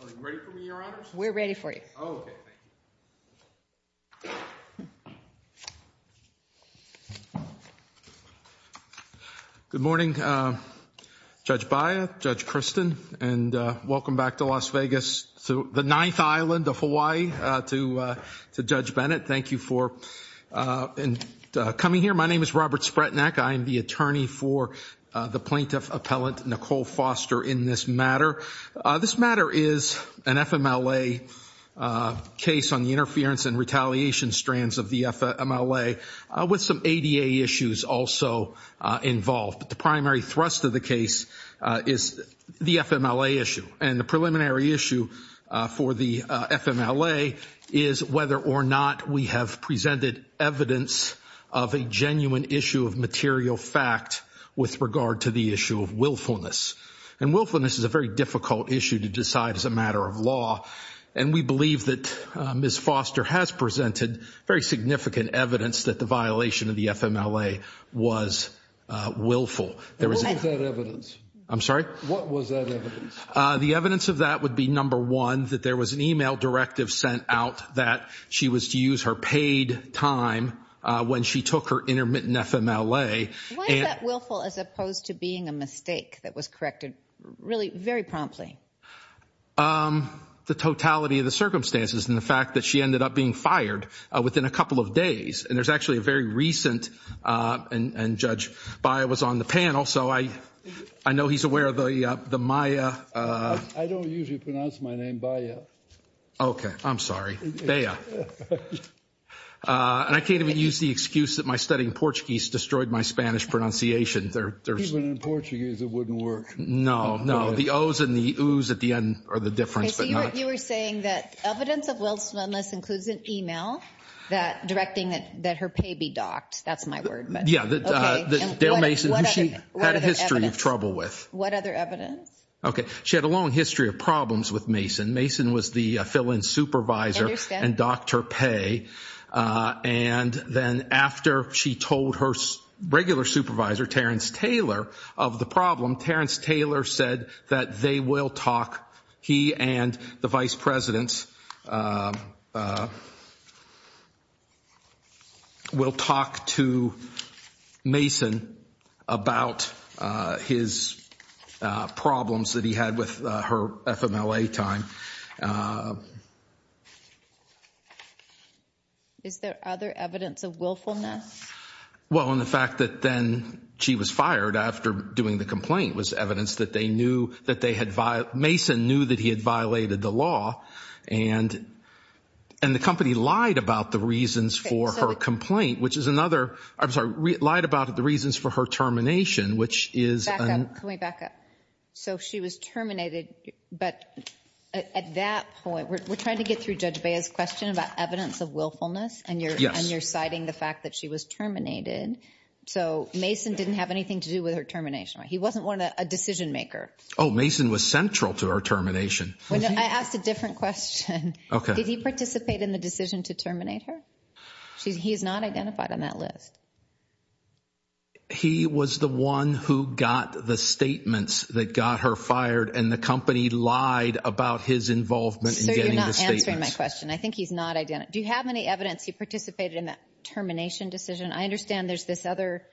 Are you ready for me, Your Honors? We're ready for you. Oh, okay. Thank you. Good morning, Judge Baya, Judge Kristen, and welcome back to Las Vegas, the ninth island of Hawaii, to Judge Bennett. Thank you for coming here. My name is Robert Spretnak. I am the attorney for the plaintiff appellant, Nicole Foster, in this matter. This matter is an FMLA case on the interference and retaliation strands of the FMLA with some ADA issues also involved. But the primary thrust of the case is the FMLA issue. And the preliminary issue for the FMLA is whether or not we have presented evidence of a genuine issue of material fact with regard to the issue of willfulness. And willfulness is a very difficult issue to decide as a matter of law. And we believe that Ms. Foster has presented very significant evidence that the violation of the FMLA was willful. What was that evidence? I'm sorry? What was that evidence? The evidence of that would be, number one, that there was an e-mail directive sent out that she was to use her paid time when she took her intermittent FMLA. Why is that willful as opposed to being a mistake that was corrected really very promptly? The totality of the circumstances and the fact that she ended up being fired within a couple of days. And there's actually a very recent, and Judge Baya was on the panel, so I know he's aware of the Maya. I don't usually pronounce my name Baya. Okay. I'm sorry. Baya. And I can't even use the excuse that my studying Portuguese destroyed my Spanish pronunciation. Even in Portuguese it wouldn't work. No, no. The ohs and the oohs at the end are the difference. Okay. So you were saying that evidence of willfulness includes an e-mail directing that her pay be docked. That's my word. Yeah. Dale Mason, who she had a history of trouble with. What other evidence? Okay. She had a long history of problems with Mason. Mason was the fill-in supervisor. And docked her pay. And then after she told her regular supervisor, Terrence Taylor, of the problem, Terrence Taylor said that they will talk, he and the vice presidents, will talk to Mason about his problems that he had with her FMLA time. Is there other evidence of willfulness? Well, in the fact that then she was fired after doing the complaint was evidence that they knew that they had, Mason knew that he had violated the law. And the company lied about the reasons for her complaint, which is another, I'm sorry, lied about the reasons for her termination, which is. Back up. Can we back up? So she was terminated, but at that point, we're trying to get through Judge Bea's question about evidence of willfulness. Yes. And you're citing the fact that she was terminated. So Mason didn't have anything to do with her termination. He wasn't a decision maker. Oh, Mason was central to her termination. I asked a different question. Did he participate in the decision to terminate her? He's not identified on that list. He was the one who got the statements that got her fired, and the company lied about his involvement in getting the statements. So you're not answering my question. I think he's not. Do you have any evidence he participated in that termination decision? I understand there's this other,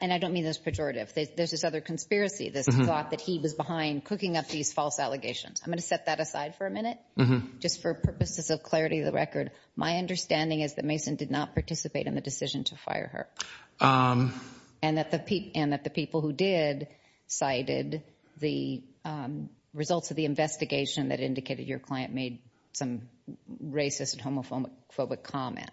and I don't mean this pejorative, there's this other conspiracy, this thought that he was behind cooking up these false allegations. I'm going to set that aside for a minute, just for purposes of clarity of the record. My understanding is that Mason did not participate in the decision to fire her, and that the people who did cited the results of the investigation that indicated your client made some racist and homophobic comment.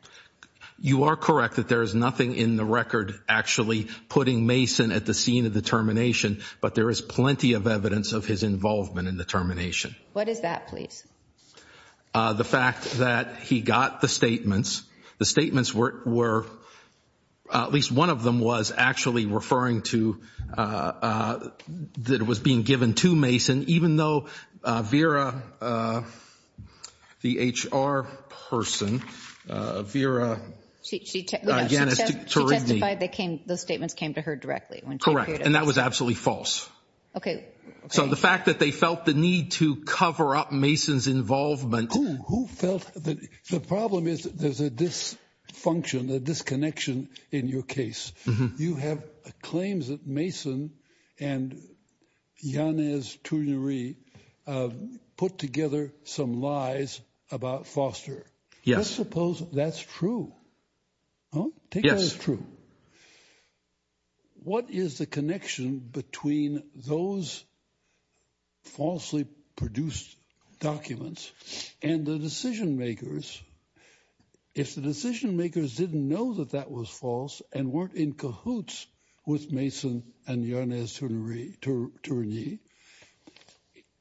You are correct that there is nothing in the record actually putting Mason at the scene of the termination, but there is plenty of evidence of his involvement in the termination. What is that, please? The fact that he got the statements. The statements were, at least one of them was actually referring to that it was being given to Mason, even though Vera, the HR person, Vera Yanis Turigny. She testified those statements came to her directly. Correct, and that was absolutely false. Okay. So the fact that they felt the need to cover up Mason's involvement. Who felt the problem is there's a dysfunction, a disconnection in your case. You have claims that Mason and Yanis Turigny put together some lies about Foster. Yes. Let's suppose that's true. Take that as true. What is the connection between those falsely produced documents and the decision makers? If the decision makers didn't know that that was false and weren't in cahoots with Mason and Yanis Turigny,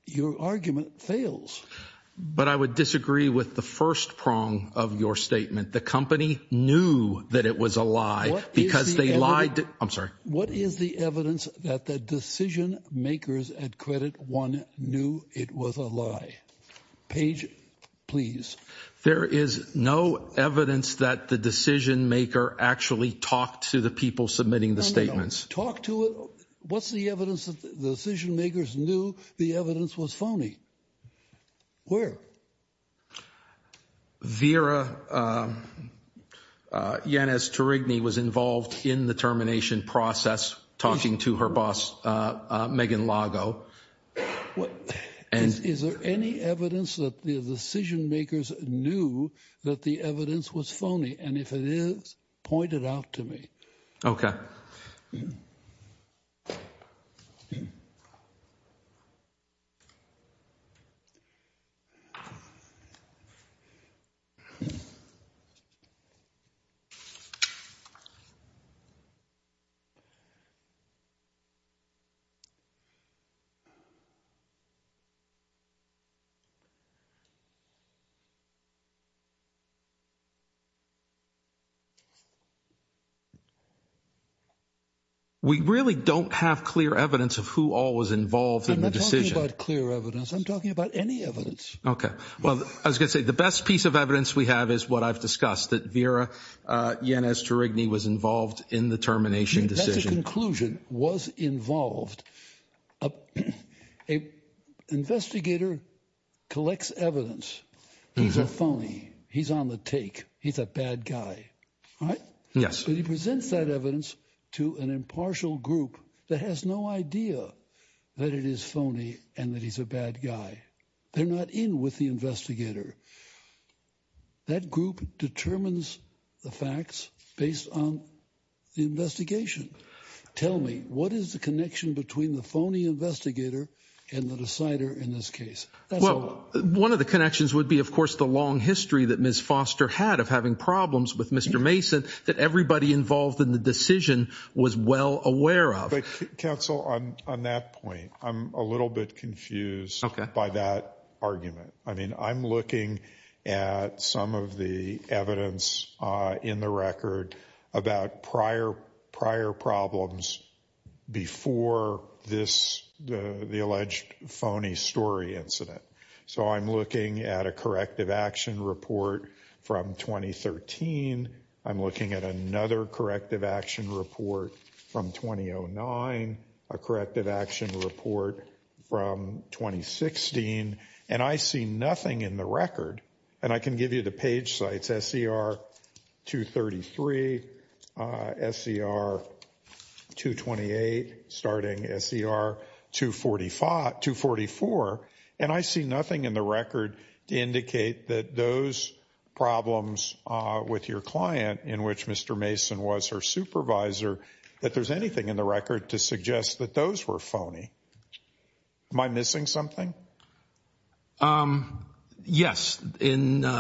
your argument fails. But I would disagree with the first prong of your statement. The company knew that it was a lie because they lied. I'm sorry. What is the evidence that the decision makers at Credit One knew it was a lie? Page, please. There is no evidence that the decision maker actually talked to the people submitting the statements. No, no, no. Talk to it. What's the evidence that the decision makers knew the evidence was phony? Where? Vera Yanis Turigny was involved in the termination process, talking to her boss, Megan Lago. Is there any evidence that the decision makers knew that the evidence was phony? And if it is, point it out to me. Okay. We really don't have clear evidence of who all was involved in the decision. I'm not talking about clear evidence. I'm talking about any evidence. Okay. Well, I was going to say the best piece of evidence we have is what I've discussed, that Vera Yanis Turigny was involved in the termination decision. That's a conclusion, was involved. A investigator collects evidence. He's a phony. He's on the take. He's a bad guy. All right? Yes. But he presents that evidence to an impartial group that has no idea that it is phony and that he's a bad guy. They're not in with the investigator. That group determines the facts based on the investigation. Tell me, what is the connection between the phony investigator and the decider in this case? Well, one of the connections would be, of course, the long history that Ms. Foster had of having problems with Mr. Mason that everybody involved in the decision was well aware of. But, counsel, on that point, I'm a little bit confused by that argument. I mean, I'm looking at some of the evidence in the record about prior problems before this alleged phony story incident. So I'm looking at a corrective action report from 2013. I'm looking at another corrective action report from 2009, a corrective action report from 2016. And I see nothing in the record. And I can give you the page sites, SCR 233, SCR 228, starting SCR 244. And I see nothing in the record to indicate that those problems with your client, in which Mr. Mason was her supervisor, that there's anything in the record to suggest that those were phony. Am I missing something? Yes. In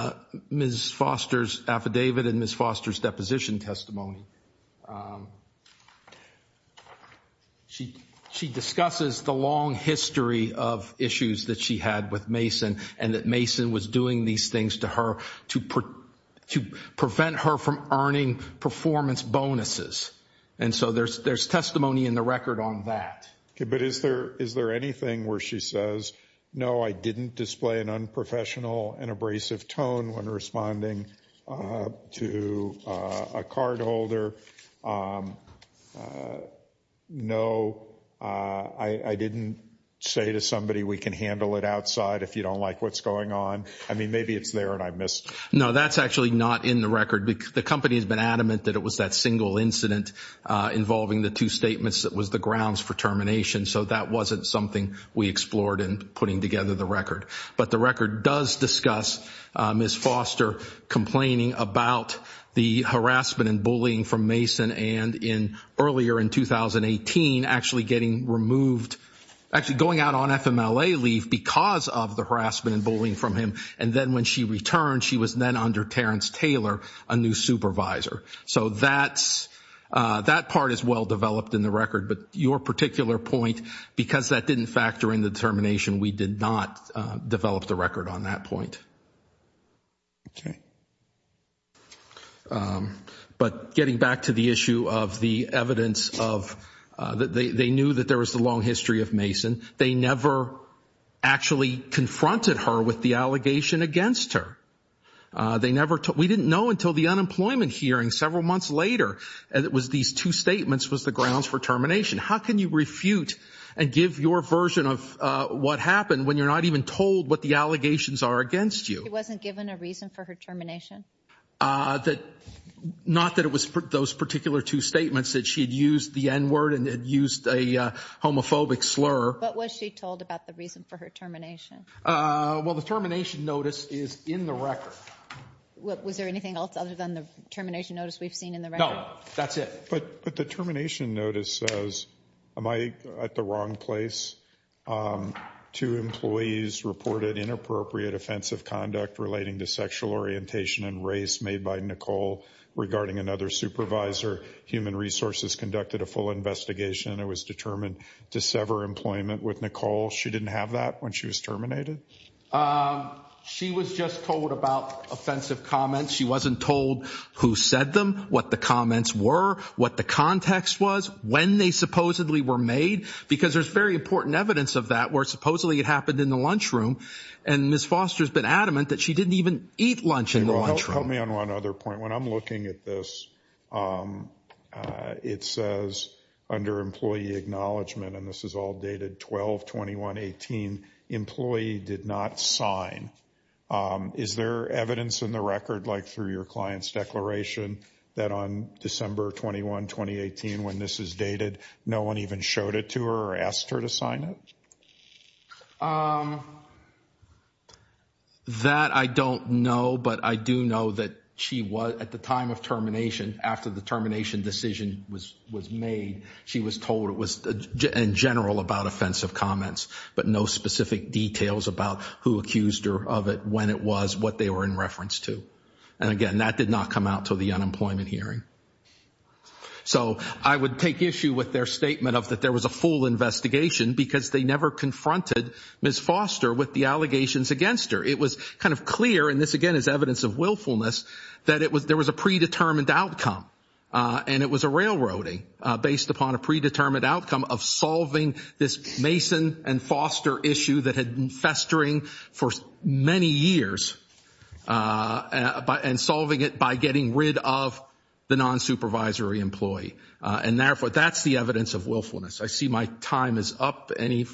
Ms. Foster's affidavit and Ms. Foster's deposition testimony, she discusses the long history of issues that she had with Mason and that Mason was doing these things to her to prevent her from earning performance bonuses. And so there's testimony in the record on that. But is there anything where she says, no, I didn't display an unprofessional and abrasive tone when responding to a cardholder? No, I didn't say to somebody, we can handle it outside if you don't like what's going on. I mean, maybe it's there and I missed. No, that's actually not in the record. The company has been adamant that it was that single incident involving the two statements that was the grounds for termination. So that wasn't something we explored in putting together the record. But the record does discuss Ms. Foster complaining about the harassment and bullying from Mason and earlier in 2018 actually getting removed, actually going out on FMLA leave because of the harassment and bullying from him. And then when she returned, she was then under Terrence Taylor, a new supervisor. So that part is well-developed in the record. But your particular point, because that didn't factor in the termination, we did not develop the record on that point. Okay. But getting back to the issue of the evidence, they knew that there was a long history of Mason. They never actually confronted her with the allegation against her. We didn't know until the unemployment hearing several months later that these two statements was the grounds for termination. How can you refute and give your version of what happened when you're not even told what the allegations are against you? She wasn't given a reason for her termination? Not that it was those particular two statements, that she had used the N-word and had used a homophobic slur. What was she told about the reason for her termination? Well, the termination notice is in the record. Was there anything else other than the termination notice we've seen in the record? No, that's it. But the termination notice says, am I at the wrong place? Two employees reported inappropriate offensive conduct relating to sexual orientation and race made by Nicole regarding another supervisor. Human Resources conducted a full investigation and it was determined to sever employment with Nicole. She didn't have that when she was terminated? She was just told about offensive comments. She wasn't told who said them, what the comments were, what the context was, when they supposedly were made? Because there's very important evidence of that where supposedly it happened in the lunchroom and Ms. Foster's been adamant that she didn't even eat lunch in the lunchroom. Help me on one other point. When I'm looking at this, it says under employee acknowledgement, and this is all dated 12-21-18, employee did not sign. Is there evidence in the record, like through your client's declaration, that on December 21, 2018, when this is dated, no one even showed it to her or asked her to sign it? That I don't know, but I do know that at the time of termination, after the termination decision was made, she was told it was in general about offensive comments, but no specific details about who accused her of it, when it was, what they were in reference to. And again, that did not come out until the unemployment hearing. So I would take issue with their statement of that there was a full investigation because they never confronted Ms. Foster with the allegations against her. It was kind of clear, and this again is evidence of willfulness, that there was a predetermined outcome, and it was a railroading based upon a predetermined outcome of solving this Mason and Foster issue that had been festering for many years, and solving it by getting rid of the non-supervisory employee. And therefore, that's the evidence of willfulness. I see my time is up. Any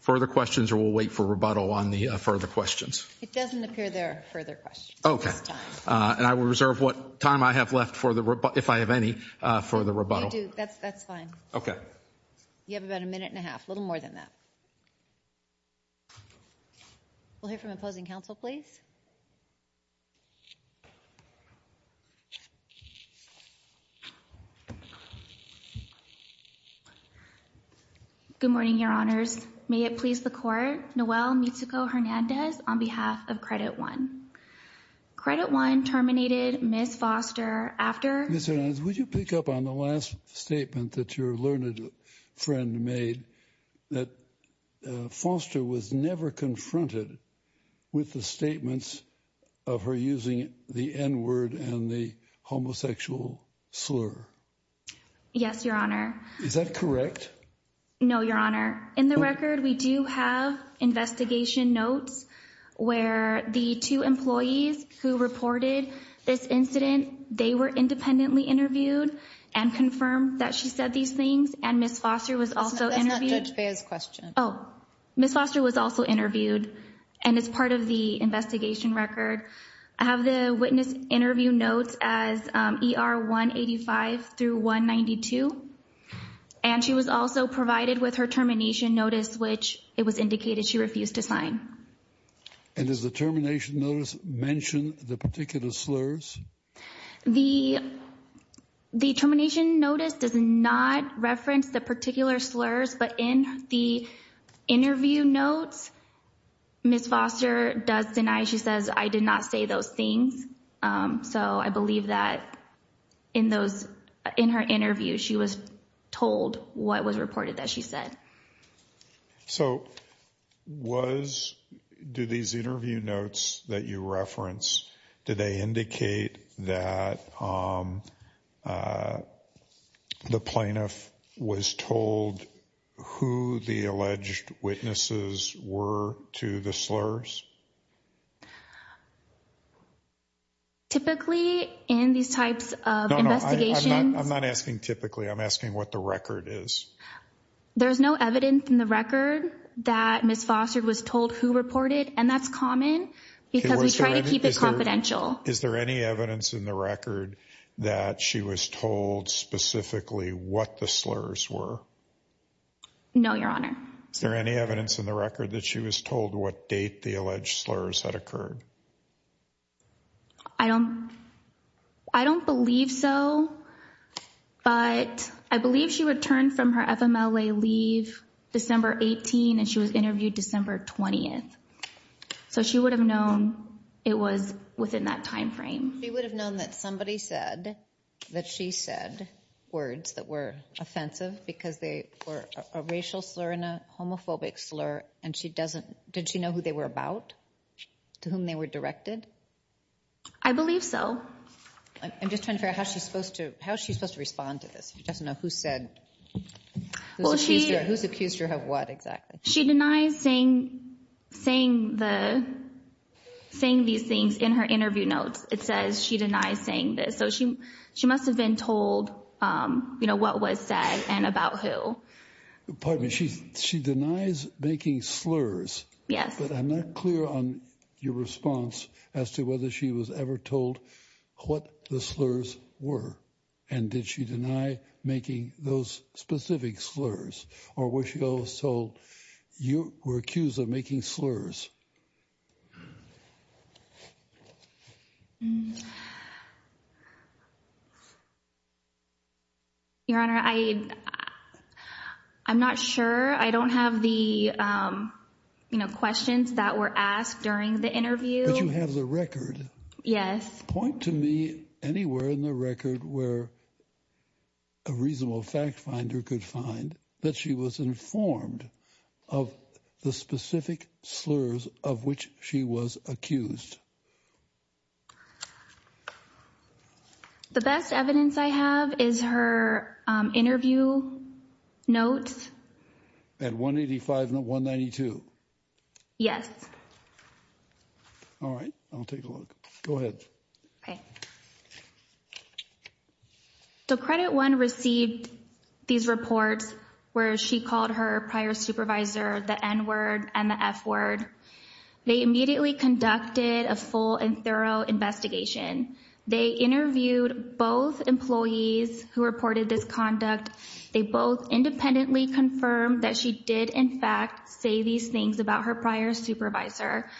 further questions, or we'll wait for rebuttal on the further questions? It doesn't appear there are further questions at this time. And I will reserve what time I have left, if I have any, for the rebuttal. That's fine. Okay. You have about a minute and a half, a little more than that. We'll hear from opposing counsel, please. Good morning, Your Honors. May it please the Court, Noel Mitzuko-Hernandez on behalf of Credit One. Credit One terminated Ms. Foster after Ms. Hernandez, would you pick up on the last statement that your learned friend made, that Foster was never confronted with the statements of her using the N-word and the homosexual slur? Yes, Your Honor. Is that correct? No, Your Honor. In the record, we do have investigation notes where the two employees who reported this incident, they were independently interviewed and confirmed that she said these things, and Ms. Foster was also interviewed. That's not Judge Behr's question. Oh. Ms. Foster was also interviewed, and it's part of the investigation record. I have the witness interview notes as ER 185 through 192, and she was also provided with her termination notice, which it was indicated she refused to sign. And does the termination notice mention the particular slurs? The termination notice does not reference the particular slurs, but in the interview notes, Ms. Foster does deny. She says, I did not say those things. So I believe that in those, in her interview, she was told what was reported that she said. So was, do these interview notes that you reference, do they indicate that the plaintiff was told who the alleged witnesses were to the slurs? Typically, in these types of investigations... No, no, I'm not asking typically. I'm asking what the record is. There's no evidence in the record that Ms. Foster was told who reported, and that's common because we try to keep it confidential. Is there any evidence in the record that she was told specifically what the slurs were? No, Your Honor. Is there any evidence in the record that she was told what date the alleged slurs had occurred? I don't, I don't believe so, but I believe she returned from her FMLA leave December 18, and she was interviewed December 20th. So she would have known it was within that timeframe. She would have known that somebody said that she said words that were offensive because they were a racial slur and a homophobic slur, and she doesn't... Did she know who they were about, to whom they were directed? I believe so. I'm just trying to figure out how she's supposed to respond to this. She doesn't know who said... Well, she... Who's accused her of what exactly? She denies saying these things in her interview notes. It says she denies saying this, so she must have been told, you know, what was said and about who. Pardon me, she denies making slurs. Yes. But I'm not clear on your response as to whether she was ever told what the slurs were, and did she deny making those specific slurs, or was she always told you were accused of making slurs? Your Honor, I... I'm not sure. I don't have the, you know, questions that were asked during the interview. But you have the record. Yes. Point to me anywhere in the record where a reasonable fact finder could find that she was informed of the specific slurs that were used. The best evidence I have is her interview notes. At 185 and 192? Yes. All right, I'll take a look. Go ahead. So Credit One received these reports where she called her prior supervisor the N-word and the F-word. They immediately conducted a full and thorough investigation. They interviewed both employees who reported this conduct. They both independently confirmed that she did, in fact, say these things about her prior supervisor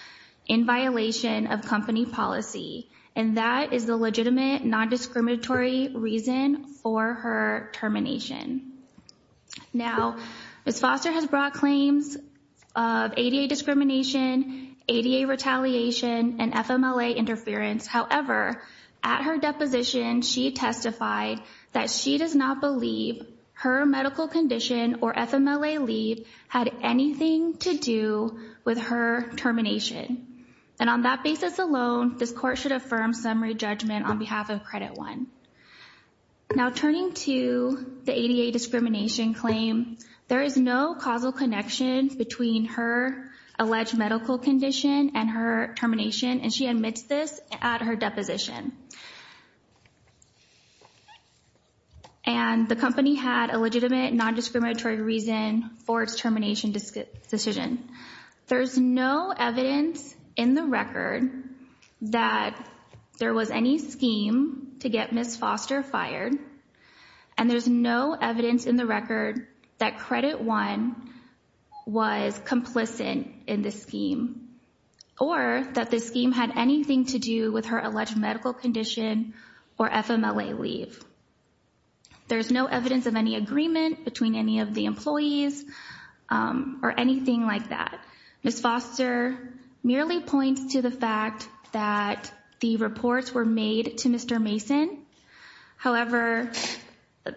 in violation of company policy. And that is the legitimate non-discriminatory reason for her termination. Now, Ms. Foster has brought claims of ADA discrimination, ADA retaliation, and FMLA interference. However, at her deposition, she testified that she does not believe her medical condition or FMLA leave had anything to do with her termination. And on that basis alone, this court should affirm summary judgment on behalf of Credit One. Now, turning to the ADA discrimination claim, there is no causal connection between her alleged medical condition and her termination, and she admits this at her deposition. And the company had a legitimate non-discriminatory reason for its termination decision. There's no evidence in the record that there was any scheme to get Ms. Foster fired, and there's no evidence in the record that Credit One was complicit in the scheme or that the scheme had anything to do with her alleged medical condition or FMLA leave. There's no evidence of any agreement between any of the employees or anything like that. Ms. Foster merely points to the fact that the reports were made to Mr. Mason. However,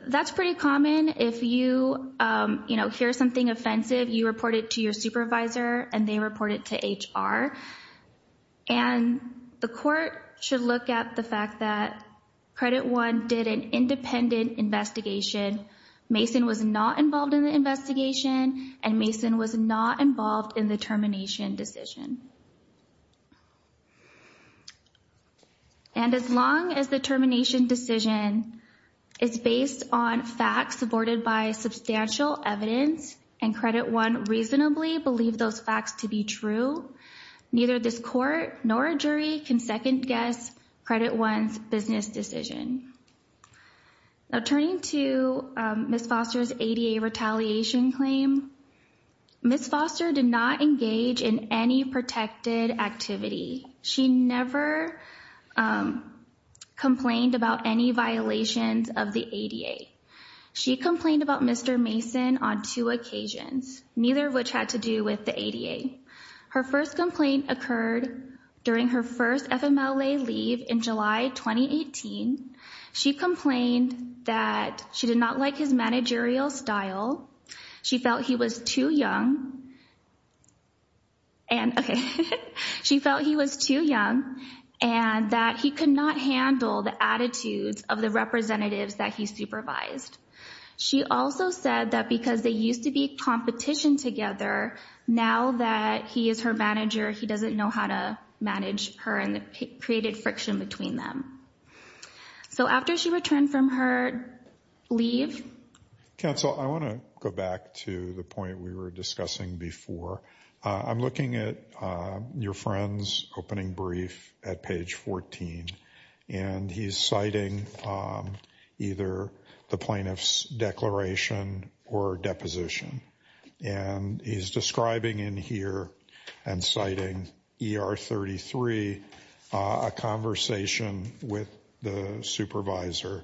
that's pretty common. If you hear something offensive, you report it to your supervisor, and they report it to HR. And the court should look at the fact that Credit One did an independent investigation. Mason was not involved in the investigation, and Mason was not involved in the termination decision. And as long as the termination decision is based on facts supported by substantial evidence and Credit One reasonably believed those facts to be true, neither this court nor a jury can second-guess Credit One's business decision. Now, turning to Ms. Foster's ADA retaliation claim, Ms. Foster did not engage in any protected activity. She never complained about any violations of the ADA. She complained about Mr. Mason on two occasions, neither of which had to do with the ADA. Her first complaint occurred during her first FMLA leave in July 2018. She complained that she did not like his managerial style, she felt he was too young, and, okay, she felt he was too young, and that he could not handle the attitudes of the representatives that he supervised. She also said that because they used to be competition together, now that he is her manager, he doesn't know how to manage her, and it created friction between them. So after she returned from her leave... Counsel, I want to go back to the point we were discussing before. I'm looking at your friend's opening brief at page 14, and he's citing either the plaintiff's declaration or deposition. And he's describing in here and citing ER 33 a conversation with the supervisor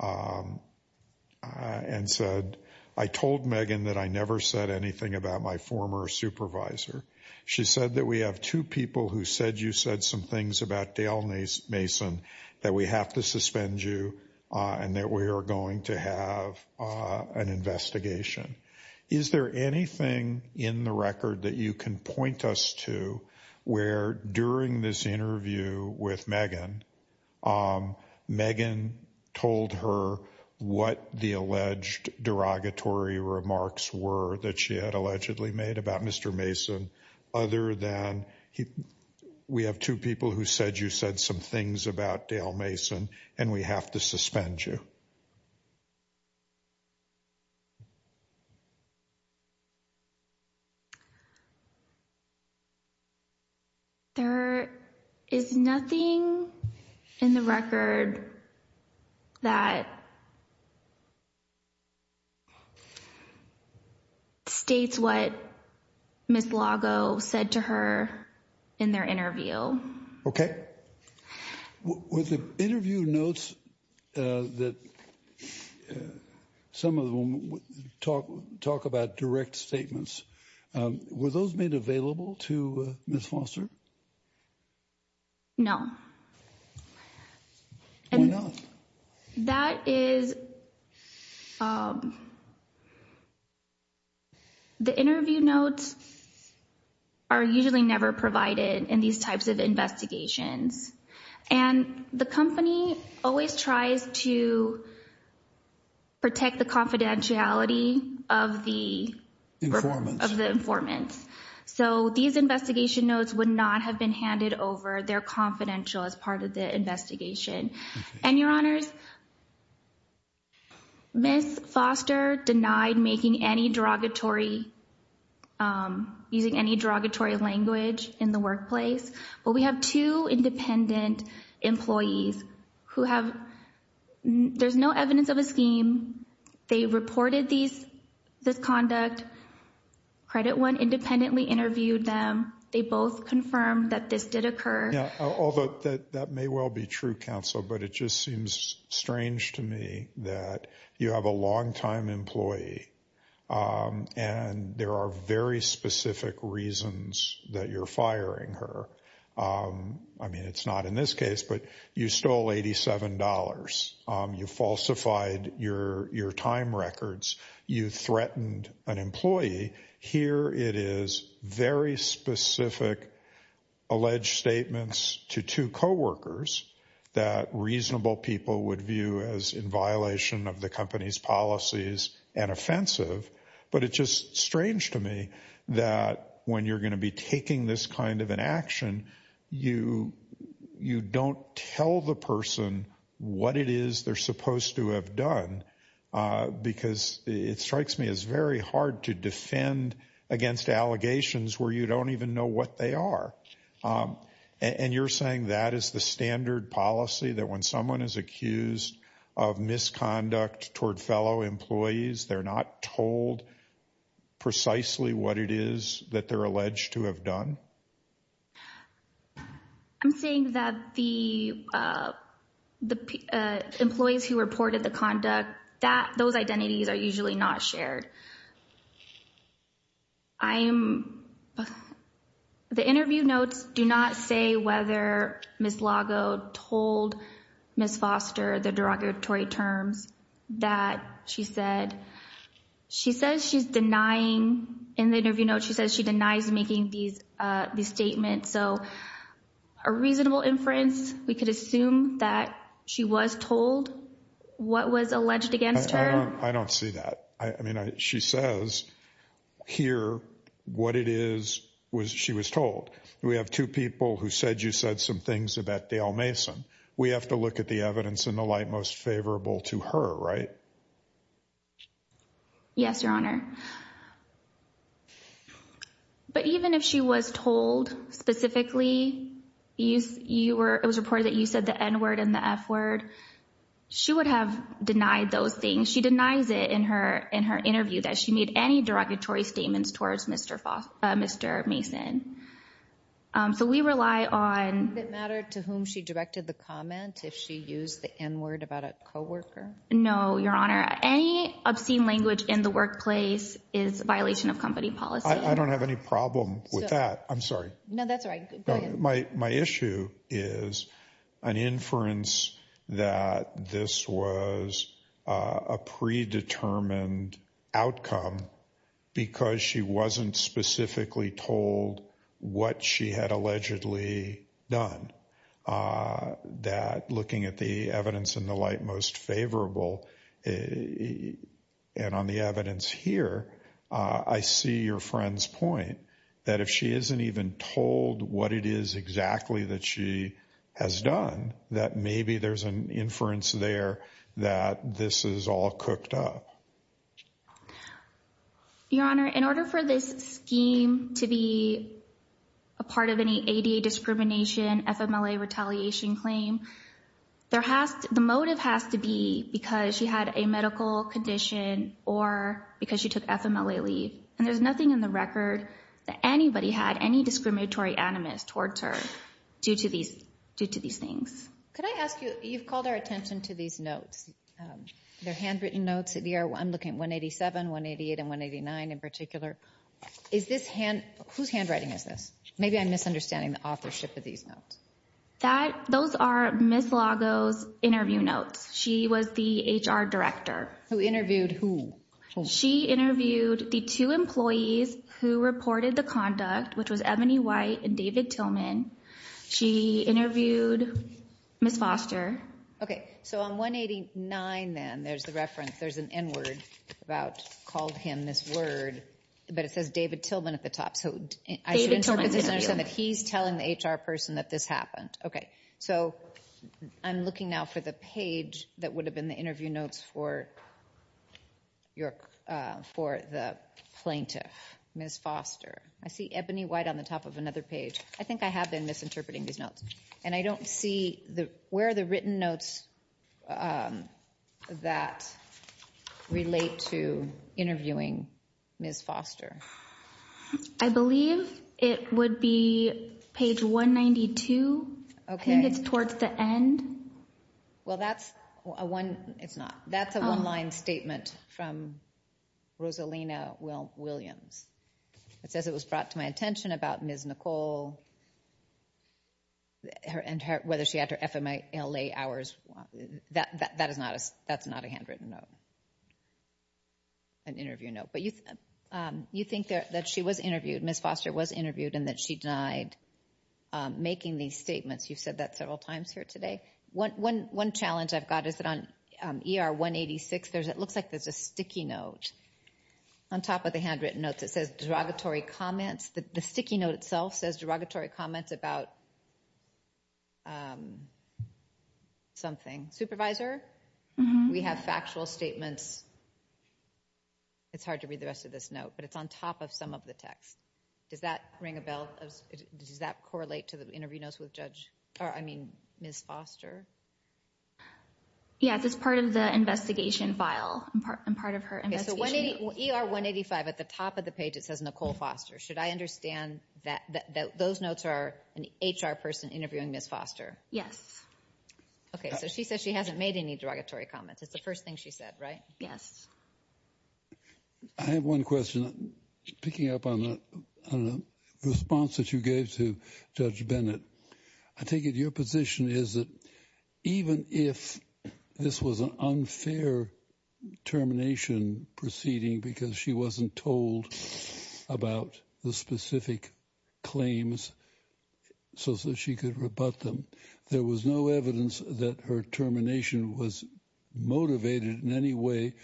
and said, I told Megan that I never said anything about my former supervisor. She said that we have two people who said you said some things about Dale Mason that we have to suspend you and that we are going to have an investigation. Is there anything in the record that you can point us to where during this interview with Megan, Megan told her what the alleged derogatory remarks were that she had allegedly made about Mr. Mason, other than we have two people who said you said some things about Dale Mason and we have to suspend you? There is nothing in the record that states what Ms. Lago said to her in their interview. Okay. Were the interview notes that some of them talk about direct statements, were those made available to Ms. Foster? No. Why not? That is, the interview notes are usually never provided in these types of investigations. And the company always tries to protect the confidentiality of the informants. So these investigation notes would not have been handed over. They're confidential as part of the investigation. And, Your Honors, Ms. Foster denied making any derogatory, using any derogatory language in the workplace. But we have two independent employees who have, there's no evidence of a scheme. They reported this conduct. Credit One independently interviewed them. They both confirmed that this did occur. Although that may well be true, Counsel, but it just seems strange to me that you have a longtime employee and there are very specific reasons that you're firing her. I mean, it's not in this case, but you stole $87. You falsified your time records. You threatened an employee. Here it is, very specific alleged statements to two coworkers that reasonable people would view as in violation of the company's policies and offensive. But it's just strange to me that when you're going to be taking this kind of an action, you don't tell the person what it is they're supposed to have done. Because it strikes me as very hard to defend against allegations where you don't even know what they are. And you're saying that is the standard policy, that when someone is accused of misconduct toward fellow employees, they're not told precisely what it is that they're alleged to have done? I'm saying that the employees who reported the conduct, those identities are usually not shared. The interview notes do not say whether Ms. Lago told Ms. Foster the derogatory terms that she said. She says she's denying, in the interview note, she says she denies making these statements. So a reasonable inference, we could assume that she was told what was alleged against her. I don't see that. I mean, she says here what it is she was told. We have two people who said you said some things about Dale Mason. We have to look at the evidence in the light most favorable to her, right? Yes, Your Honor. But even if she was told specifically it was reported that you said the N-word and the F-word, she would have denied those things. She denies it in her interview that she made any derogatory statements towards Mr. Mason. So we rely on— Does it matter to whom she directed the comment if she used the N-word about a coworker? No, Your Honor. Any obscene language in the workplace is a violation of company policy. I don't have any problem with that. I'm sorry. No, that's all right. Go ahead. My issue is an inference that this was a predetermined outcome because she wasn't specifically told what she had allegedly done, that looking at the evidence in the light most favorable and on the evidence here, I see your friend's point that if she isn't even told what it is exactly that she has done, that maybe there's an inference there that this is all cooked up. Your Honor, in order for this scheme to be a part of any ADA discrimination, FMLA retaliation claim, the motive has to be because she had a medical condition or because she took FMLA leave, and there's nothing in the record that anybody had any discriminatory animus towards her due to these things. Could I ask you, you've called our attention to these notes. They're handwritten notes. I'm looking at 187, 188, and 189 in particular. Whose handwriting is this? Maybe I'm misunderstanding the authorship of these notes. Those are Ms. Lago's interview notes. She was the HR director. Who interviewed who? She interviewed the two employees who reported the conduct, which was Ebony White and David Tillman. She interviewed Ms. Foster. Okay, so on 189, then, there's the reference. There's an N word about called him this word, but it says David Tillman at the top. So I should understand that he's telling the HR person that this happened. Okay, so I'm looking now for the page that would have been the interview notes for the plaintiff, Ms. Foster. I see Ebony White on the top of another page. I think I have been misinterpreting these notes, and I don't see where the written notes that relate to interviewing Ms. Foster. I believe it would be page 192. I think it's towards the end. Well, that's a one-line statement from Rosalina Williams. It says it was brought to my attention about Ms. Nicole and whether she had her FMLA hours. That is not a handwritten note, an interview note. But you think that she was interviewed, Ms. Foster was interviewed, and that she denied making these statements. You've said that several times here today. One challenge I've got is that on ER 186, it looks like there's a sticky note on top of the handwritten note. It says derogatory comments. The sticky note itself says derogatory comments about something. Supervisor, we have factual statements. It's hard to read the rest of this note, but it's on top of some of the text. Does that ring a bell? Does that correlate to the interview notes with Ms. Foster? Yes, it's part of the investigation file and part of her investigation. Okay, so ER 185, at the top of the page it says Nicole Foster. Should I understand that those notes are an HR person interviewing Ms. Foster? Yes. Okay, so she says she hasn't made any derogatory comments. It's the first thing she said, right? Yes. I have one question. Picking up on the response that you gave to Judge Bennett, I take it your position is that even if this was an unfair termination proceeding because she wasn't told about the specific claims so that she could rebut them, there was no evidence that her termination was motivated in any way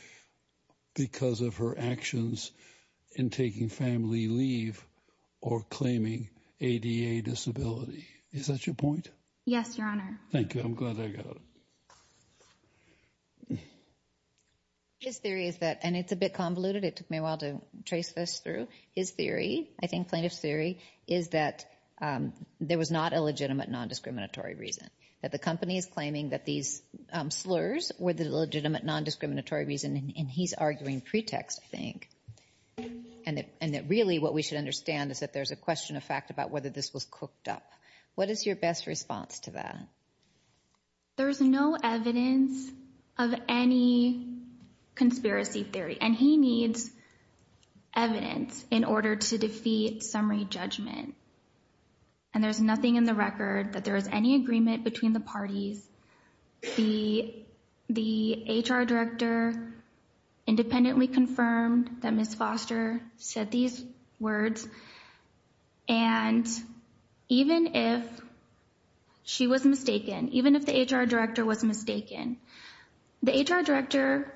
because of her actions in taking family leave or claiming ADA disability. Is that your point? Yes, Your Honor. Thank you. I'm glad I got it. His theory is that, and it's a bit convoluted. It took me a while to trace this through. His theory, I think plaintiff's theory, is that there was not a legitimate non-discriminatory reason, that the company is claiming that these slurs were the legitimate non-discriminatory reason, and he's arguing pretext, I think, and that really what we should understand is that there's a question of fact about whether this was cooked up. What is your best response to that? There's no evidence of any conspiracy theory, and he needs evidence in order to defeat summary judgment, and there's nothing in the record that there is any agreement between the parties. The HR director independently confirmed that Ms. Foster said these words, and even if she was mistaken, even if the HR director was mistaken, the HR director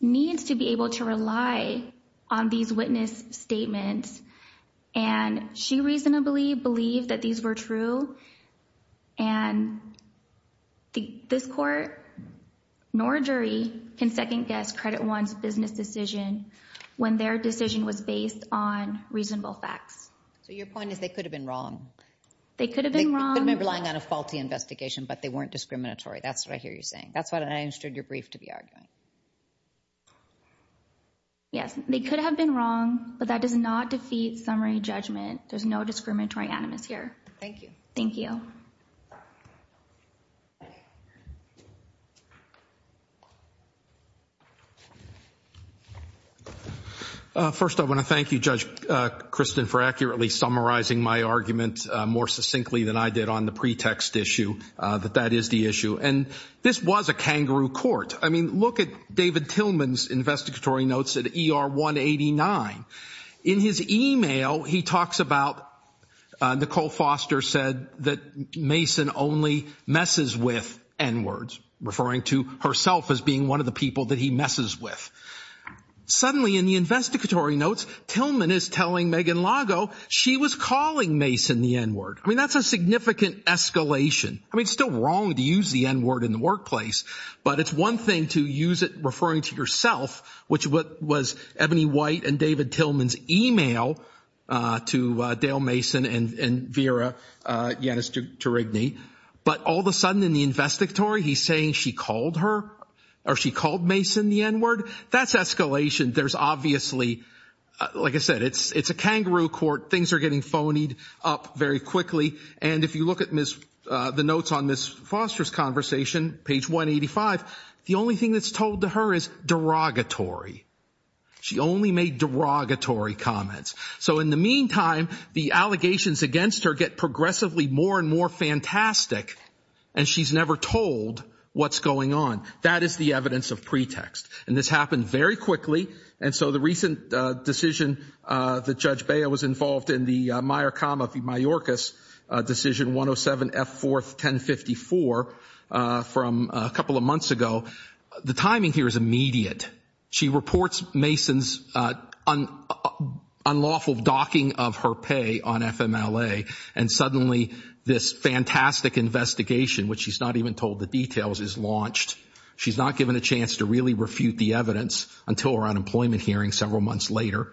needs to be able to rely on these witness statements, and she reasonably believed that these were true, and this court, nor jury, can second-guess Credit One's business decision when their decision was based on reasonable facts. So your point is they could have been wrong? They could have been wrong. They could have been relying on a faulty investigation, but they weren't discriminatory. That's what I hear you saying. That's what I understood your brief to be arguing. Yes, they could have been wrong, but that does not defeat summary judgment. There's no discriminatory animus here. Thank you. Thank you. First, I want to thank you, Judge Kristen, for accurately summarizing my argument more succinctly than I did on the pretext issue that that is the issue, and this was a kangaroo court. I mean, look at David Tillman's investigatory notes at ER 189. In his email, he talks about Nicole Foster said that Mason only messes with N-words, referring to herself as being one of the people that he messes with. Suddenly in the investigatory notes, Tillman is telling Megan Lago she was calling Mason the N-word. I mean, that's a significant escalation. I mean, it's still wrong to use the N-word in the workplace, but it's one thing to use it referring to yourself, which was Ebony White and David Tillman's email to Dale Mason and Vera Yannis Turigny, but all of a sudden in the investigatory he's saying she called her or she called Mason the N-word. That's escalation. There's obviously, like I said, it's a kangaroo court. Things are getting phonied up very quickly, and if you look at the notes on Ms. Foster's conversation, page 185, the only thing that's told to her is derogatory. She only made derogatory comments. So in the meantime, the allegations against her get progressively more and more fantastic, and she's never told what's going on. That is the evidence of pretext, and this happened very quickly, and so the recent decision that Judge Baya was involved in, the Meyer-Kama v. Mayorkas decision 107F4-1054 from a couple of months ago, the timing here is immediate. She reports Mason's unlawful docking of her pay on FMLA, and suddenly this fantastic investigation, which she's not even told the details, is launched. She's not given a chance to really refute the evidence until her unemployment hearing several months later,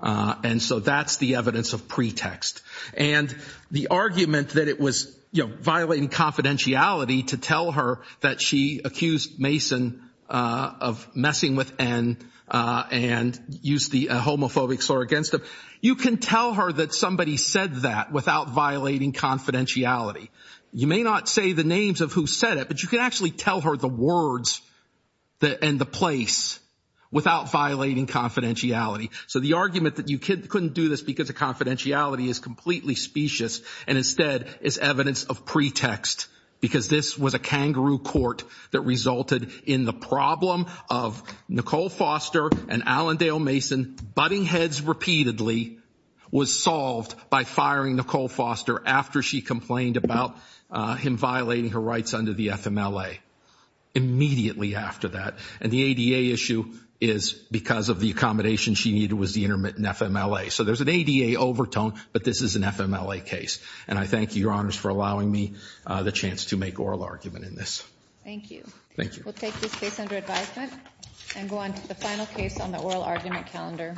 and so that's the evidence of pretext. And the argument that it was violating confidentiality to tell her that she accused Mason of messing with N and used the homophobic slur against him, you can tell her that somebody said that without violating confidentiality. You may not say the names of who said it, but you can actually tell her the words and the place without violating confidentiality. So the argument that you couldn't do this because of confidentiality is completely specious, and instead is evidence of pretext, because this was a kangaroo court that resulted in the problem of Nicole Foster and Allendale Mason butting heads repeatedly was solved by firing Nicole Foster after she complained about him violating her rights under the FMLA, immediately after that. And the ADA issue is because of the accommodation she needed was the intermittent FMLA. So there's an ADA overtone, but this is an FMLA case. And I thank you, Your Honors, for allowing me the chance to make oral argument in this. Thank you. Thank you. We'll take this case under advisement and go on to the final case on the oral argument calendar.